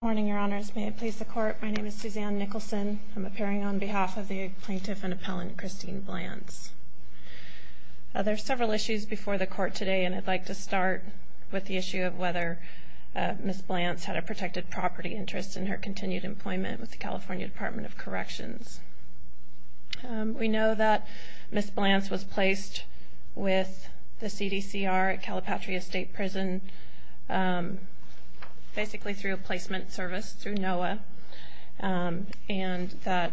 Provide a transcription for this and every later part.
Good morning, Your Honors. May it please the Court, my name is Suzanne Nicholson. I'm appearing on behalf of the Plaintiff and Appellant Christine Blantz. There are several issues before the Court today, and I'd like to start with the issue of whether Ms. Blantz had a protected property interest in her continued employment with the California Department of Corrections. We know that Ms. Blantz was placed with the CDCR at Calipatria State Prison, basically through a placement service through NOAA. And that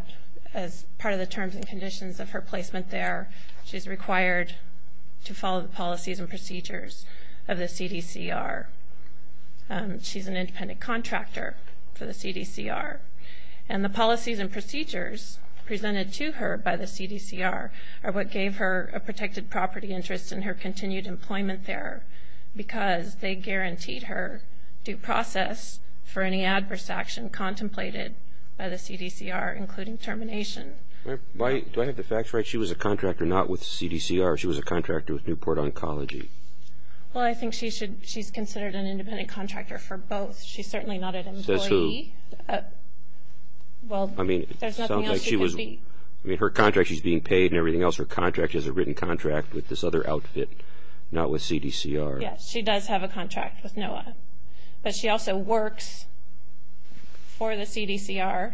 as part of the terms and conditions of her placement there, she's required to follow the policies and procedures of the CDCR. She's an independent contractor for the CDCR. And the policies and procedures presented to her by the CDCR are what gave her a protected property interest in her continued employment there, because they guaranteed her due process for any adverse action contemplated by the CDCR, including termination. Do I have the facts right? She was a contractor not with the CDCR. She was a contractor with Newport Oncology. Well, I think she's considered an independent contractor for both. She's certainly not an employee. Says who? Well, there's nothing else she could be. I mean, her contract, she's being paid and everything else. Her contract is a written contract with this other outfit, not with CDCR. Yes, she does have a contract with NOAA. But she also works for the CDCR.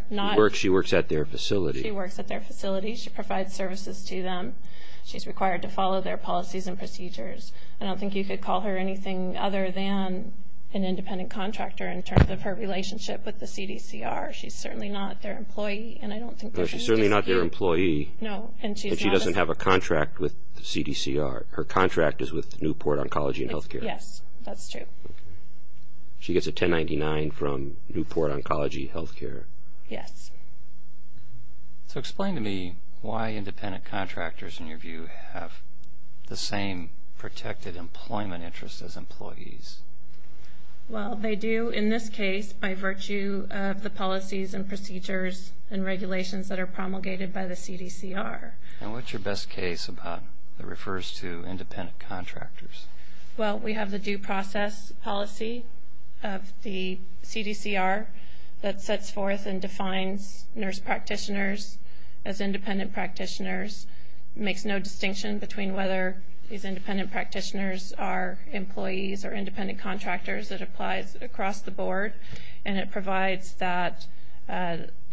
She works at their facility. She works at their facility. She provides services to them. She's required to follow their policies and procedures. I don't think you could call her anything other than an independent contractor in terms of her relationship with the CDCR. She's certainly not their employee, and I don't think there's any dispute. No, she's certainly not their employee. No, and she's not a... But she doesn't have a contract with the CDCR. Her contract is with Newport Oncology and Health Care. Yes, that's true. She gets a 1099 from Newport Oncology Health Care. Yes. So explain to me why independent contractors, in your view, have the same protected employment interests as employees. Well, they do in this case by virtue of the policies and procedures and regulations that are promulgated by the CDCR. And what's your best case about that refers to independent contractors? Well, we have the due process policy of the CDCR that sets forth and defines nurse practitioners as independent practitioners, makes no distinction between whether these independent practitioners are employees or independent contractors. It applies across the board, and it provides that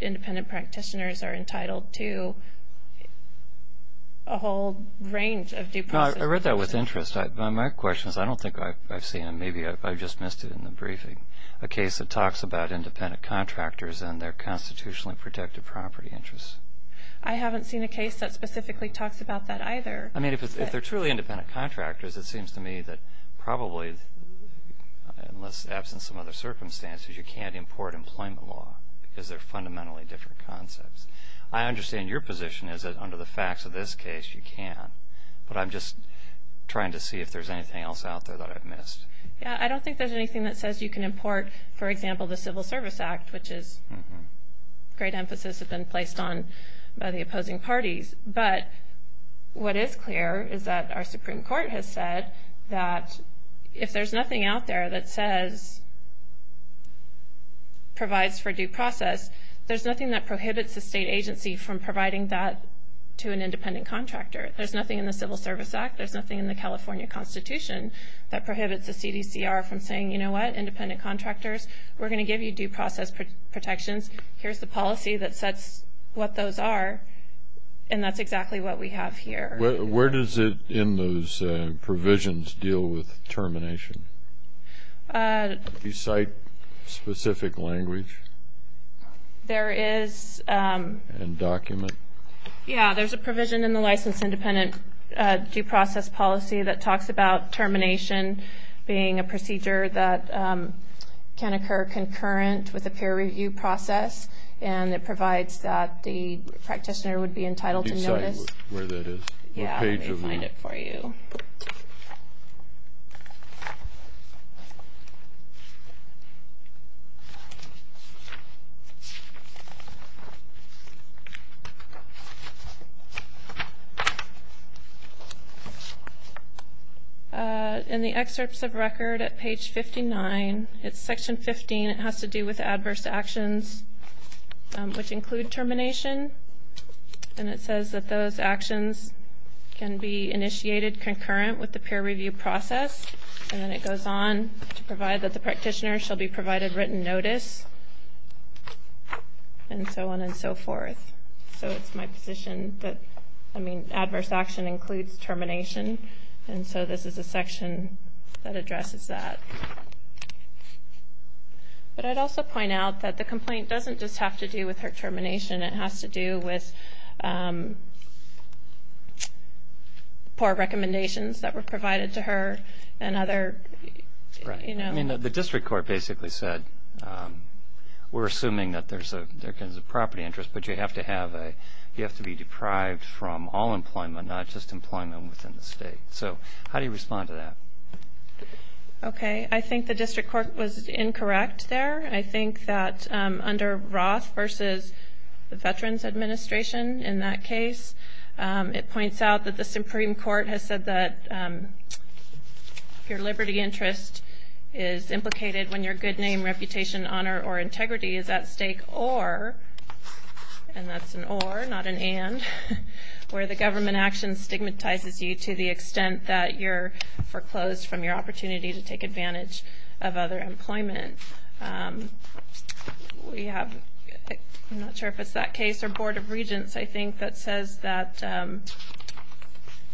independent practitioners are entitled to a whole range of due process... No, I read that with interest, but my question is I don't think I've seen it. Maybe I just missed it in the briefing. A case that talks about independent contractors and their constitutionally protected property interests. I haven't seen a case that specifically talks about that either. I mean, if they're truly independent contractors, it seems to me that probably, unless absent some other circumstances, you can't import employment law because they're fundamentally different concepts. I understand your position is that under the facts of this case, you can. But I'm just trying to see if there's anything else out there that I've missed. Yeah, I don't think there's anything that says you can import, for example, the Civil Service Act, which is a great emphasis that's been placed on by the opposing parties. But what is clear is that our Supreme Court has said that if there's nothing out there that says provides for due process, there's nothing that prohibits the state agency from providing that to an independent contractor. There's nothing in the Civil Service Act. There's nothing in the California Constitution that prohibits the CDCR from saying, you know what, independent contractors, we're going to give you due process protections. Here's the policy that sets what those are, and that's exactly what we have here. Where does it in those provisions deal with termination? Do you cite specific language? There is. And document? Yeah, there's a provision in the license-independent due process policy that talks about termination being a procedure that can occur concurrent with a peer review process, and it provides that the practitioner would be entitled to notice. Do you cite where that is? Yeah, let me find it for you. In the excerpts of record at page 59, it's section 15. It has to do with adverse actions, which include termination, and it says that those actions can be initiated concurrent with the peer review process, and then it goes on to provide that the practitioner shall be provided written notice, and so on and so forth. So it's my position that, I mean, adverse action includes termination, and so this is a section that addresses that. But I'd also point out that the complaint doesn't just have to do with her termination. It has to do with poor recommendations that were provided to her and other, you know. I mean, the district court basically said we're assuming that there's a property interest, but you have to be deprived from all employment, not just employment within the state. So how do you respond to that? Okay. I think the district court was incorrect there. I think that under Roth versus the Veterans Administration in that case, it points out that the Supreme Court has said that your liberty interest is implicated when your good name, reputation, honor, or integrity is at stake, or, and that's an or, not an and, where the government action stigmatizes you to the extent that you're foreclosed from your opportunity to take advantage of other employment. We have, I'm not sure if it's that case, or Board of Regents, I think, that says that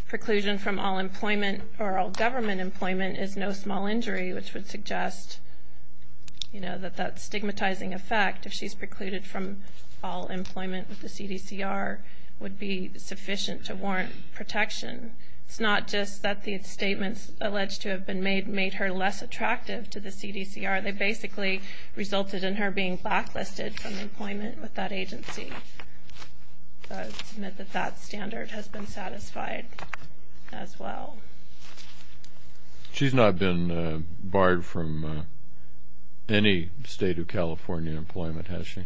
preclusion from all employment or all government employment is no small injury, which would suggest, you know, that that stigmatizing effect, if she's precluded from all employment with the CDCR, would be sufficient to warrant protection. It's not just that the statements alleged to have made her less attractive to the CDCR. They basically resulted in her being backlisted from employment with that agency. So I would submit that that standard has been satisfied as well. She's not been barred from any State of California employment, has she?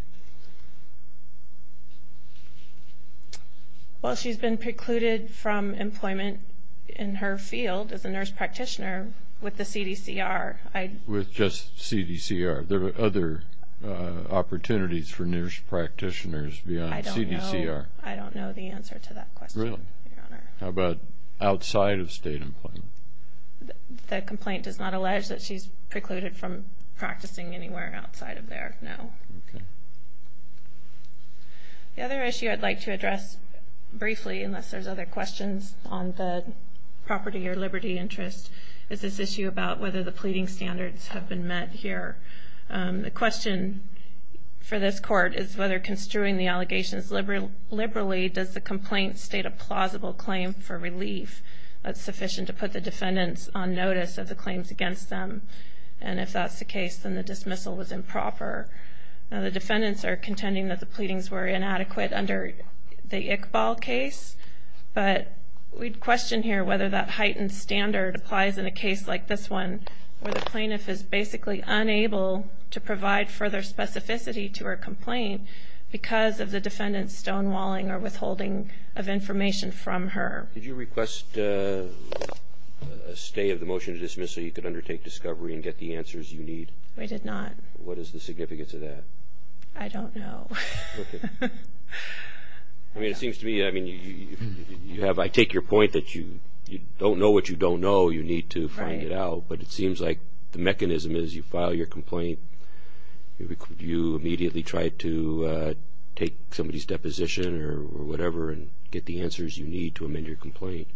Well, she's been precluded from employment in her field as a nurse practitioner with the CDCR. With just CDCR. There are other opportunities for nurse practitioners beyond CDCR. I don't know the answer to that question, Your Honor. How about outside of State employment? The complaint does not allege that she's precluded from practicing anywhere outside of there, no. Okay. The other issue I'd like to address briefly, unless there's other questions on the property or liberty interest, is this issue about whether the pleading standards have been met here. The question for this Court is whether construing the allegations liberally, does the complaint state a plausible claim for relief that's sufficient to put the defendants on notice of the claims against them? And if that's the case, then the dismissal was improper. The defendants are contending that the pleadings were inadequate under the Iqbal case. But we'd question here whether that heightened standard applies in a case like this one, where the plaintiff is basically unable to provide further specificity to her complaint because of the defendant's stonewalling or withholding of information from her. Did you request a stay of the motion to dismiss so you could undertake discovery and get the answers you need? We did not. What is the significance of that? I don't know. I mean, it seems to me, I mean, I take your point that you don't know what you don't know, you need to find it out, but it seems like the mechanism is you file your complaint, you immediately try to take somebody's deposition or whatever and get the answers you need to amend your complaint.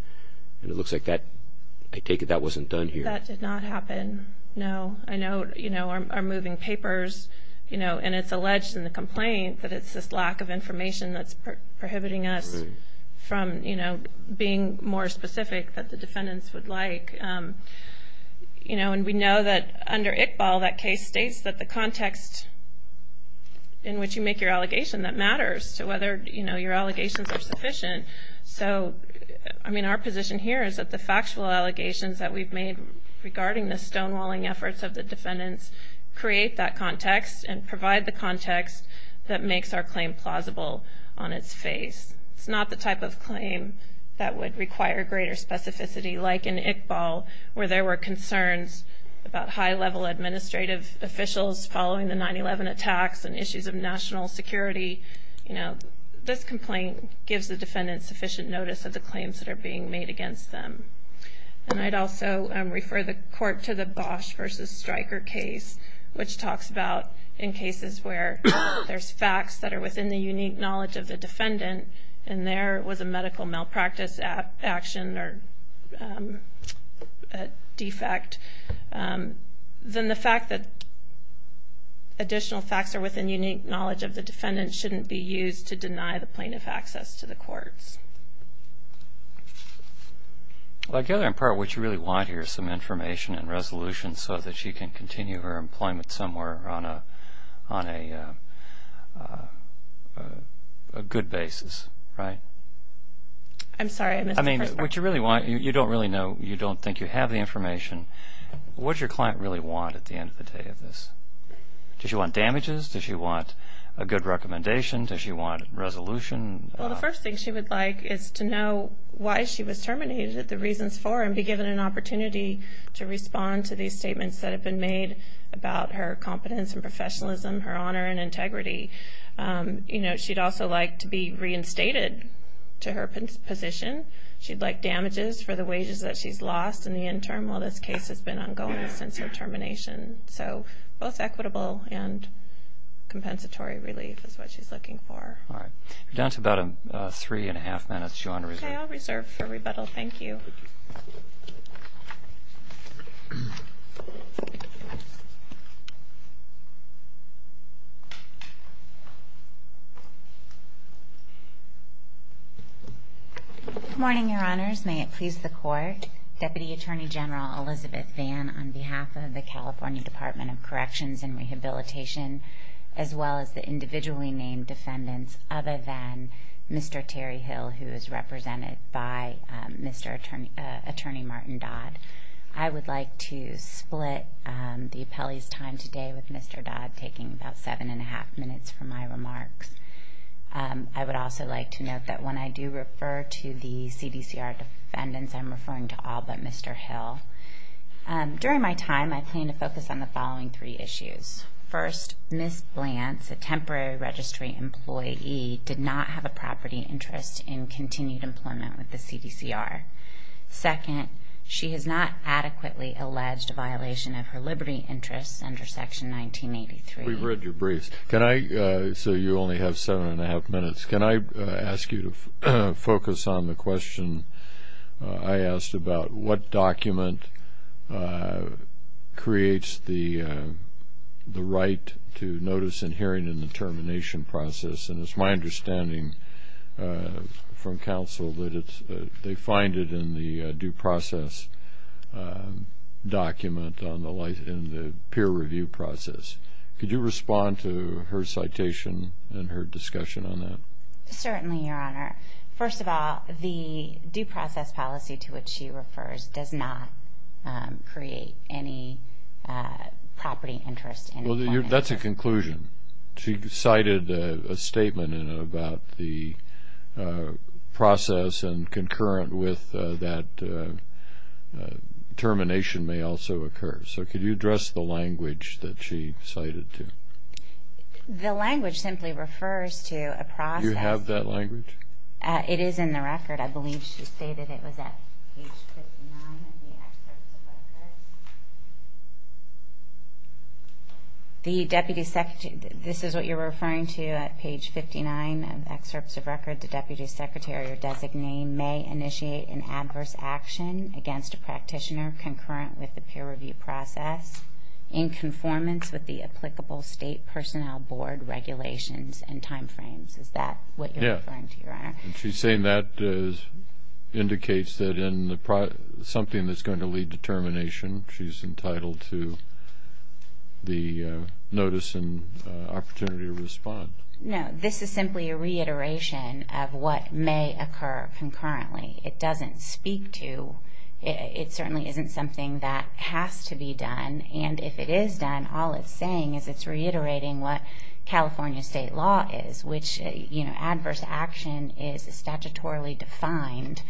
And it looks like that, I take it that wasn't done here. That did not happen, no. I know, you know, our moving papers, you know, and it's alleged in the complaint that it's this lack of information that's prohibiting us from, you know, being more specific than the defendants would like. You know, and we know that under ICBAL that case states that the context in which you make your allegation that matters to whether, you know, your allegations are sufficient. So, I mean, our position here is that the factual allegations that we've made regarding the stonewalling efforts of the defendants create that context and provide the context that makes our claim plausible on its face. It's not the type of claim that would require greater specificity like in ICBAL where there were concerns about high-level administrative officials following the 9-11 attacks and issues of national security. You know, this complaint gives the defendants sufficient notice of the claims that are being made against them. And I'd also refer the court to the Bosch versus Stryker case, which talks about in cases where there's facts that are within the unique knowledge of the defendant and there was a medical malpractice action or defect, then the fact that additional facts are within unique knowledge of the defendant shouldn't be used to deny the plaintiff access to the courts. Well, I gather in part what you really want here is some information and resolution so that she can continue her employment somewhere on a good basis, right? I'm sorry, I missed the first part. I mean, what you really want, you don't really know, you don't think you have the information. What does your client really want at the end of the day of this? Does she want damages? Does she want a good recommendation? Does she want resolution? Well, the first thing she would like is to know why she was terminated, and be given an opportunity to respond to these statements that have been made about her competence and professionalism, her honor and integrity. She'd also like to be reinstated to her position. She'd like damages for the wages that she's lost in the interim while this case has been ongoing since her termination. So both equitable and compensatory relief is what she's looking for. All right. We're down to about three and a half minutes. Do you want to reserve? For rebuttal, thank you. Good morning, Your Honors. May it please the Court. Deputy Attorney General Elizabeth Vann, on behalf of the California Department of Corrections and Rehabilitation, as well as the individually named defendants, other than Mr. Terry Hill, who is represented by Mr. Attorney Martin Dodd, I would like to split the appellee's time today with Mr. Dodd, taking about seven and a half minutes for my remarks. I would also like to note that when I do refer to the CDCR defendants, I'm referring to all but Mr. Hill. During my time, I plan to focus on the following three issues. First, Ms. Blantz, a temporary registry employee, did not have a property interest in continued employment with the CDCR. Second, she has not adequately alleged a violation of her liberty interests under Section 1983. We've read your briefs. So you only have seven and a half minutes. Can I ask you to focus on the question I asked about what document creates the right to notice and hearing in the termination process? And it's my understanding from counsel that they find it in the due process document in the peer review process. Could you respond to her citation and her discussion on that? Certainly, Your Honor. First of all, the due process policy to which she refers does not create any property interest in employment. Well, that's a conclusion. She cited a statement about the process and concurrent with that termination may also occur. So could you address the language that she cited too? The language simply refers to a process. Do you have that language? It is in the record. I believe she stated it was at page 59 of the excerpts of record. This is what you're referring to at page 59 of the excerpts of record. The deputy secretary or designee may initiate an adverse action against a practitioner concurrent with the peer review process in conformance with the applicable State Personnel Board regulations and timeframes. Is that what you're referring to, Your Honor? She's saying that indicates that in something that's going to lead to termination, she's entitled to the notice and opportunity to respond. No, this is simply a reiteration of what may occur concurrently. It doesn't speak to you. It certainly isn't something that has to be done. And if it is done, all it's saying is it's reiterating what California State law is, which adverse action is a statutorily defined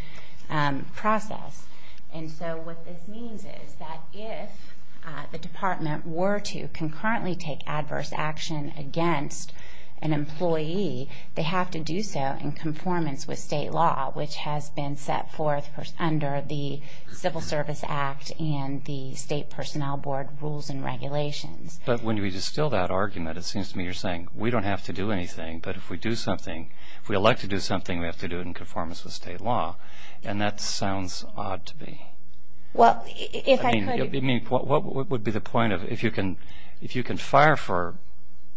process. And so what this means is that if the department were to concurrently take adverse action against an employee, they have to do so in conformance with state law, which has been set forth under the Civil Service Act and the State Personnel Board rules and regulations. But when you distill that argument, it seems to me you're saying, we don't have to do anything, but if we elect to do something, we have to do it in conformance with state law. And that sounds odd to me. What would be the point of if you can fire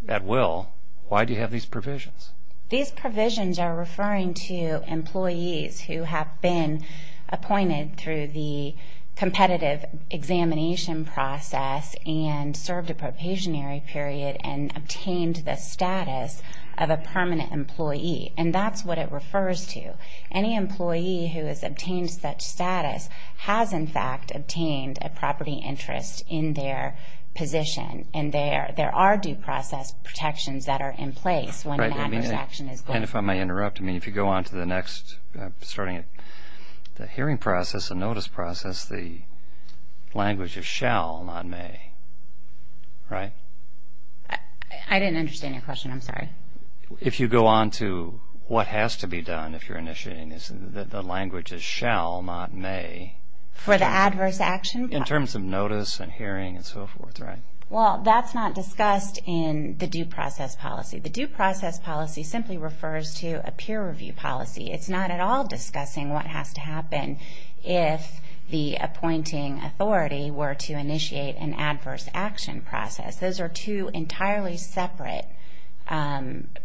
at will, why do you have these provisions? These provisions are referring to employees who have been appointed through the competitive examination process and served a probationary period and obtained the status of a permanent employee. And that's what it refers to. Any employee who has obtained such status has, in fact, obtained a property interest in their position. And there are due process protections that are in place when an adverse action is done. And if I may interrupt, if you go on to the next, starting at the hearing process, the notice process, the language is shall, not may. Right? I didn't understand your question. I'm sorry. If you go on to what has to be done if you're initiating this, the language is shall, not may. For the adverse action? In terms of notice and hearing and so forth, right? Well, that's not discussed in the due process policy. The due process policy simply refers to a peer review policy. It's not at all discussing what has to happen if the appointing authority were to initiate an adverse action process. Those are two entirely separate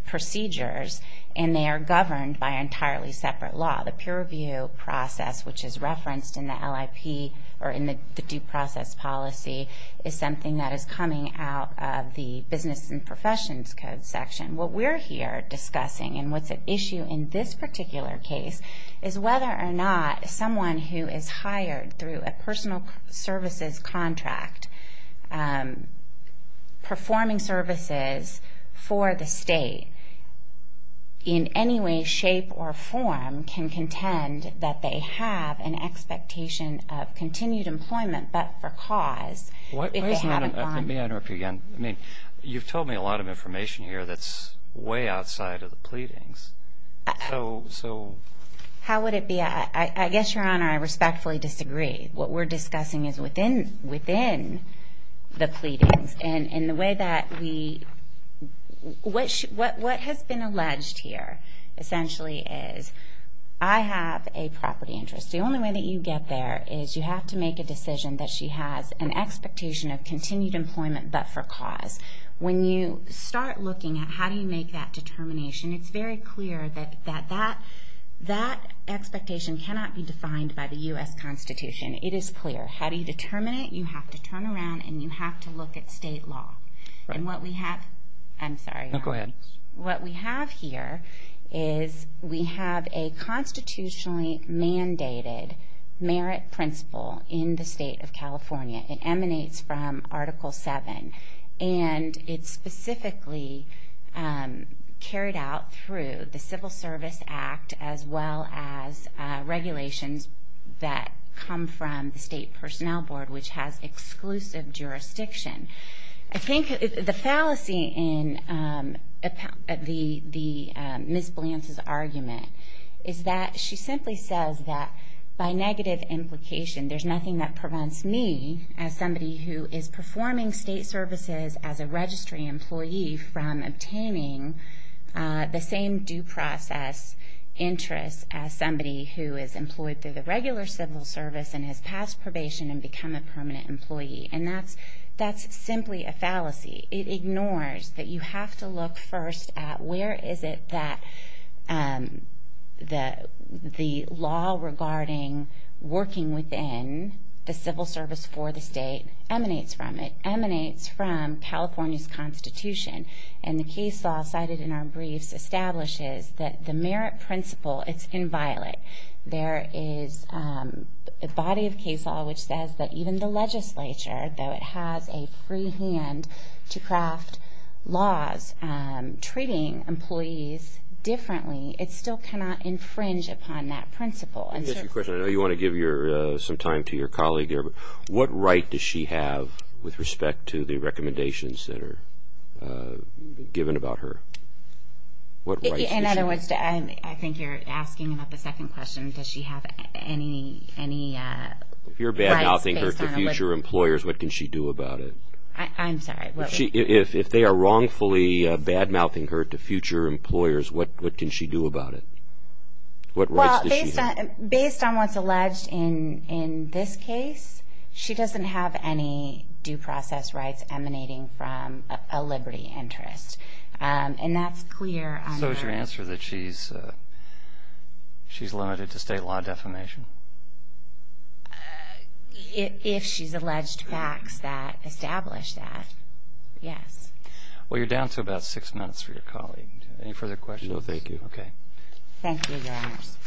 procedures, and they are governed by an entirely separate law. The peer review process, which is referenced in the LIP or in the due process policy, is something that is coming out of the business and professions code section. What we're here discussing and what's at issue in this particular case is whether or not someone who is hired through a personal services contract, performing services for the state, in any way, shape, or form, can contend that they have an expectation of continued employment, but for cause if they haven't gone. Let me interrupt you again. I mean, you've told me a lot of information here that's way outside of the pleadings. How would it be? I guess, Your Honor, I respectfully disagree. What we're discussing is within the pleadings. What has been alleged here, essentially, is I have a property interest. The only way that you get there is you have to make a decision that she has an expectation of continued employment, but for cause. When you start looking at how do you make that determination, it's very clear that that expectation cannot be defined by the U.S. Constitution. It is clear. How do you determine it? You have to turn around and you have to look at state law. What we have here is we have a constitutionally mandated merit principle in the state of California. It emanates from Article VII, and it's specifically carried out through the Civil Service Act as well as regulations that come from the State Personnel Board, which has exclusive jurisdiction. I think the fallacy in Ms. Blance's argument is that she simply says that, by negative implication, there's nothing that prevents me, as somebody who is performing state services as a registry employee, from obtaining the same due process interest as somebody who is employed through the regular civil service and has passed probation and become a permanent employee. That's simply a fallacy. It ignores that you have to look first at where is it that the law regarding working within the civil service for the state emanates from. It emanates from California's constitution, and the case law cited in our briefs establishes that the merit principle, it's inviolate. There is a body of case law which says that even the legislature, though it has a free hand to craft laws treating employees differently, it still cannot infringe upon that principle. I know you want to give some time to your colleague here, but what right does she have with respect to the recommendations that are given about her? In other words, I think you're asking about the second question. Does she have any rights based on her living? If you're bad-mouthing her to future employers, what can she do about it? I'm sorry. If they are wrongfully bad-mouthing her to future employers, what can she do about it? Based on what's alleged in this case, she doesn't have any due process rights emanating from a liberty interest. And that's clear. So is your answer that she's limited to state law defamation? If she's alleged facts that establish that, yes. Well, you're down to about six minutes for your colleague. Any further questions? No, thank you. Okay. Thank you, Your Honors.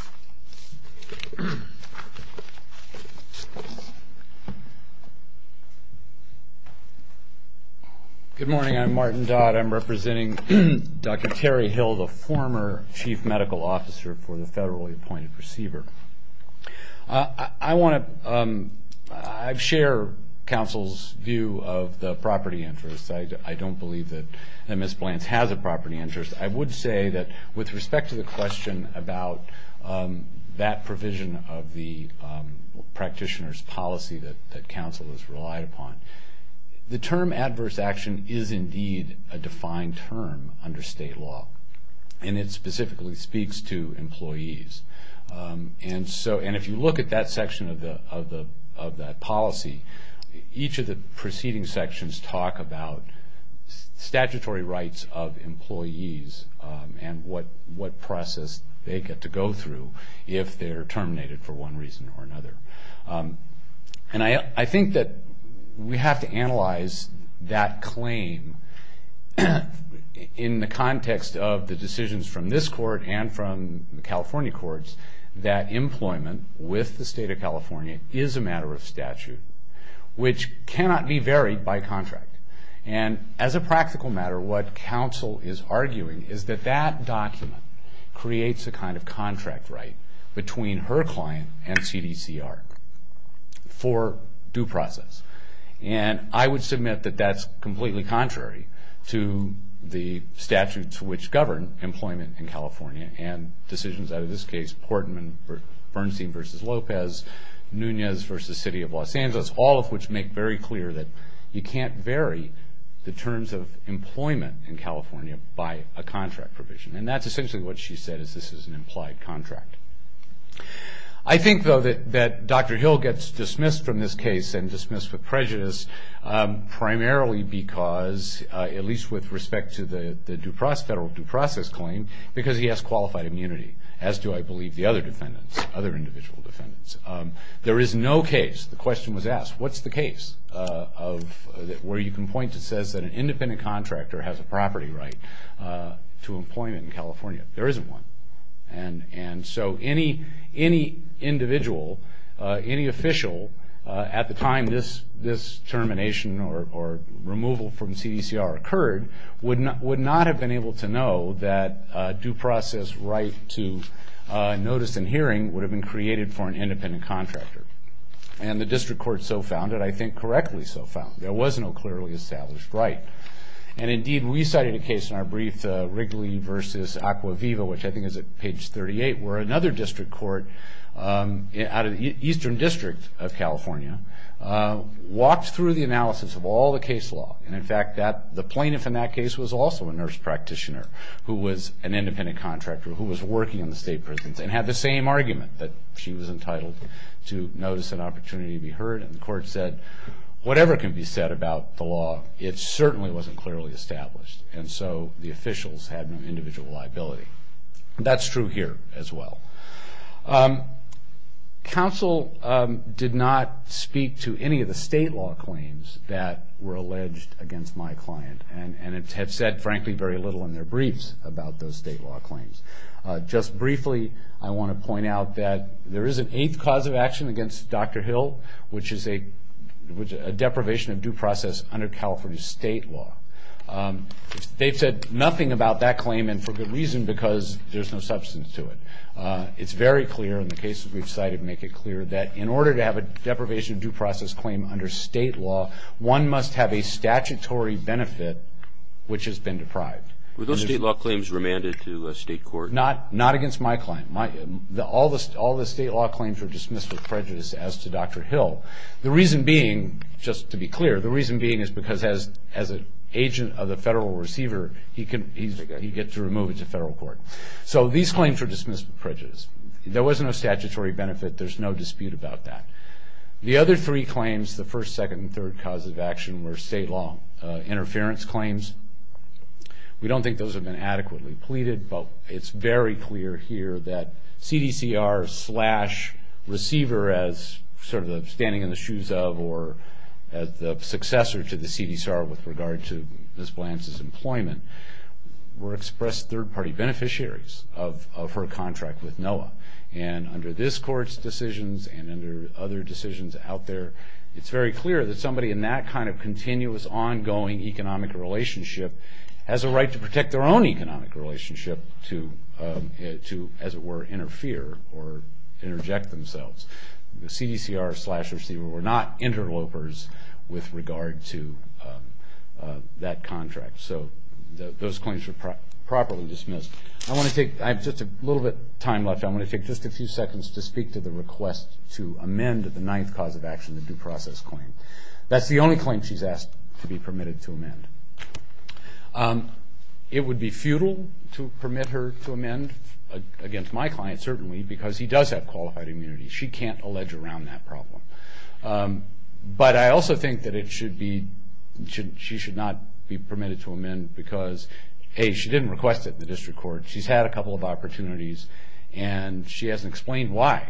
Good morning. I'm Martin Dodd. I'm representing Dr. Terry Hill, the former chief medical officer for the federally appointed receiver. I want to share counsel's view of the property interest. I don't believe that Ms. Blance has a property interest. I would say that with respect to the question about that provision of the practitioner's policy that counsel has relied upon, the term adverse action is indeed a defined term under state law. And it specifically speaks to employees. And if you look at that section of that policy, each of the preceding sections talk about statutory rights of employees and what process they get to go through if they're terminated for one reason or another. And I think that we have to analyze that claim in the context of the decisions from this court and from the California courts that employment with the state of California is a matter of statute, which cannot be varied by contract. And as a practical matter, what counsel is arguing is that that document creates a kind of contract right between her client and CDCR for due process. And I would submit that that's completely contrary to the statutes which govern employment in California and decisions out of this case, Portman-Bernstein v. Lopez, Nunez v. City of Los Angeles, all of which make very clear that you can't vary the terms of employment in California by a contract provision. And that's essentially what she said is this is an implied contract. I think, though, that Dr. Hill gets dismissed from this case and dismissed with prejudice primarily because, at least with respect to the federal due process claim, because he has qualified immunity, as do, I believe, the other defendants, other individual defendants. There is no case, the question was asked, what's the case where you can point to says that an independent contractor has a property right to employment in California? There isn't one. And so any individual, any official at the time this termination or removal from CDCR occurred would not have been able to know that due process right to notice and hearing would have been created for an independent contractor. And the district court so found it, I think correctly so found it. There was no clearly established right. And, indeed, we cited a case in our brief, Wrigley v. Acquaviva, which I think is at page 38, where another district court out of the eastern district of California walked through the analysis of all the case law. And, in fact, the plaintiff in that case was also a nurse practitioner who was an independent contractor who was working in the state prisons and had the same argument that she was entitled to notice and opportunity to be heard. And the court said, whatever can be said about the law, it certainly wasn't clearly established. And so the officials had no individual liability. And that's true here as well. Counsel did not speak to any of the state law claims that were alleged against my client and have said, frankly, very little in their briefs about those state law claims. Just briefly, I want to point out that there is an eighth cause of action against Dr. Hill, which is a deprivation of due process under California state law. They've said nothing about that claim, and for good reason, because there's no substance to it. It's very clear in the cases we've cited make it clear that in order to have a deprivation of due process claim under state law, one must have a statutory benefit which has been deprived. Were those state law claims remanded to a state court? Not against my client. All the state law claims were dismissed with prejudice as to Dr. Hill. The reason being, just to be clear, the reason being is because as an agent of the federal receiver, he gets to remove it to federal court. So these claims were dismissed with prejudice. There was no statutory benefit. There's no dispute about that. The other three claims, the first, second, and third causes of action, were state law interference claims. We don't think those have been adequately pleaded, but it's very clear here that CDCR slash receiver as sort of standing in the shoes of or as the successor to the CDCR with regard to Ms. Blance's employment were expressed third-party beneficiaries of her contract with NOAA. And under this court's decisions and under other decisions out there, it's very clear that somebody in that kind of continuous, ongoing economic relationship has a right to protect their own economic relationship to, as it were, interfere or interject themselves. The CDCR slash receiver were not interlopers with regard to that contract. So those claims were properly dismissed. I have just a little bit of time left. I'm going to take just a few seconds to speak to the request to amend the ninth cause of action, the due process claim. It would be futile to permit her to amend against my client, certainly, because he does have qualified immunity. She can't allege around that problem. But I also think that she should not be permitted to amend because, A, she didn't request it in the district court. She's had a couple of opportunities, and she hasn't explained why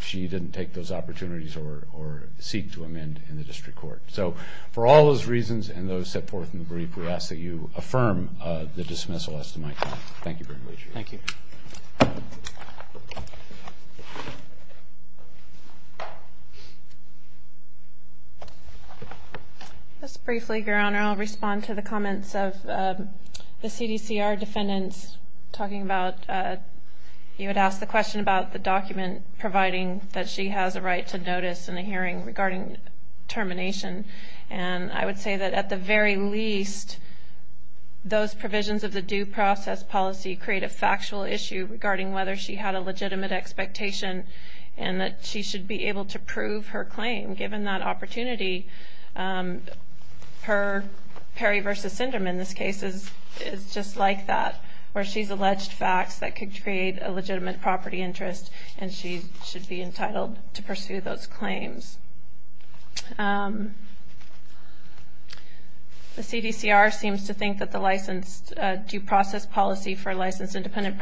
she didn't take those opportunities or seek to amend in the district court. So for all those reasons and those set forth in the brief, we ask that you affirm the dismissal as to my client. Thank you very much. Thank you. Just briefly, Your Honor, I'll respond to the comments of the CDCR defendants talking about you had asked the question about the document providing that she has a right to notice in a hearing regarding termination. And I would say that, at the very least, those provisions of the due process policy create a factual issue regarding whether she had a legitimate expectation and that she should be able to prove her claim. Given that opportunity, her Perry v. Syndrome, in this case, is just like that, where she's alleged facts that could create a legitimate property interest, and she should be entitled to pursue those claims. The CDCR seems to think that the license due process policy for licensed independent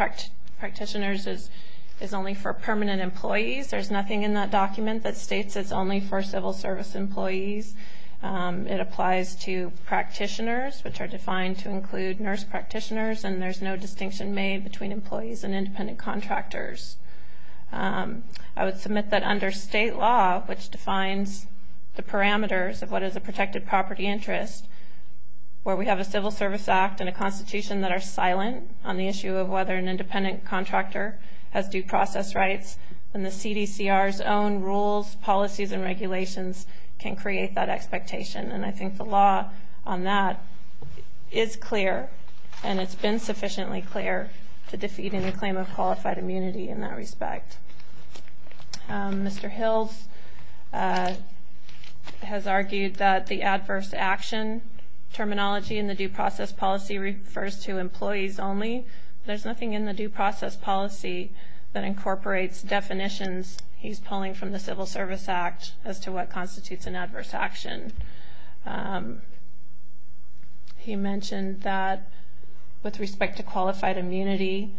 practitioners is only for permanent employees. There's nothing in that document that states it's only for civil service employees. It applies to practitioners, which are defined to include nurse practitioners, and there's no distinction made between employees and independent contractors. I would submit that under state law, which defines the parameters of what is a protected property interest, where we have a Civil Service Act and a Constitution that are silent on the issue of whether an independent contractor has due process rights, then the CDCR's own rules, policies, and regulations can create that expectation. And I think the law on that is clear, and it's been sufficiently clear to defeat any claim of qualified immunity in that respect. Mr. Hills has argued that the adverse action terminology in the due process policy refers to employees only. There's nothing in the due process policy that incorporates definitions he's He mentioned that with respect to qualified immunity,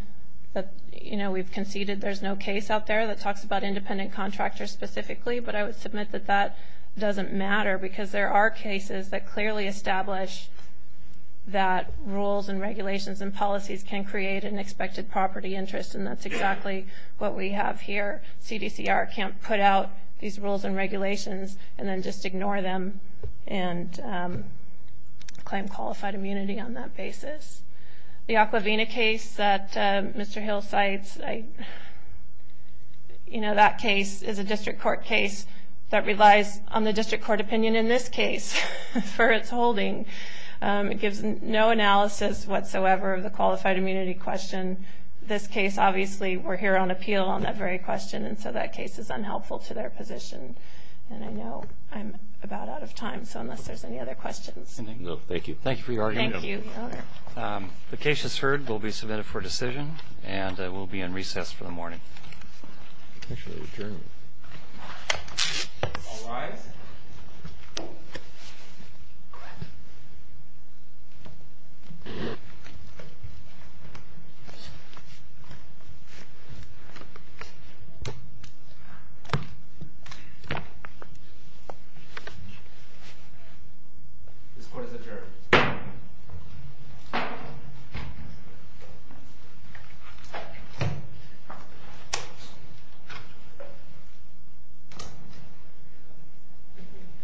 that we've conceded there's no case out there that talks about independent contractors specifically, but I would submit that that doesn't matter because there are cases that clearly establish that rules and regulations and policies can create an expected property interest, and that's exactly what we have here. CDCR can't put out these rules and regulations and then just ignore them and claim qualified immunity on that basis. The Aquavina case that Mr. Hills cites, that case is a district court case that relies on the district court opinion in this case for its holding. It gives no analysis whatsoever of the qualified immunity question. This case, obviously, we're here on appeal on that very question, and so that case is unhelpful to their position. And I know I'm about out of time, so unless there's any other questions. No, thank you. Thank you for your argument. Thank you, Your Honor. The case is heard. We'll be submitted for decision, and we'll be in recess for the morning. Potentially adjourned. All rise. This court is adjourned. This court is adjourned.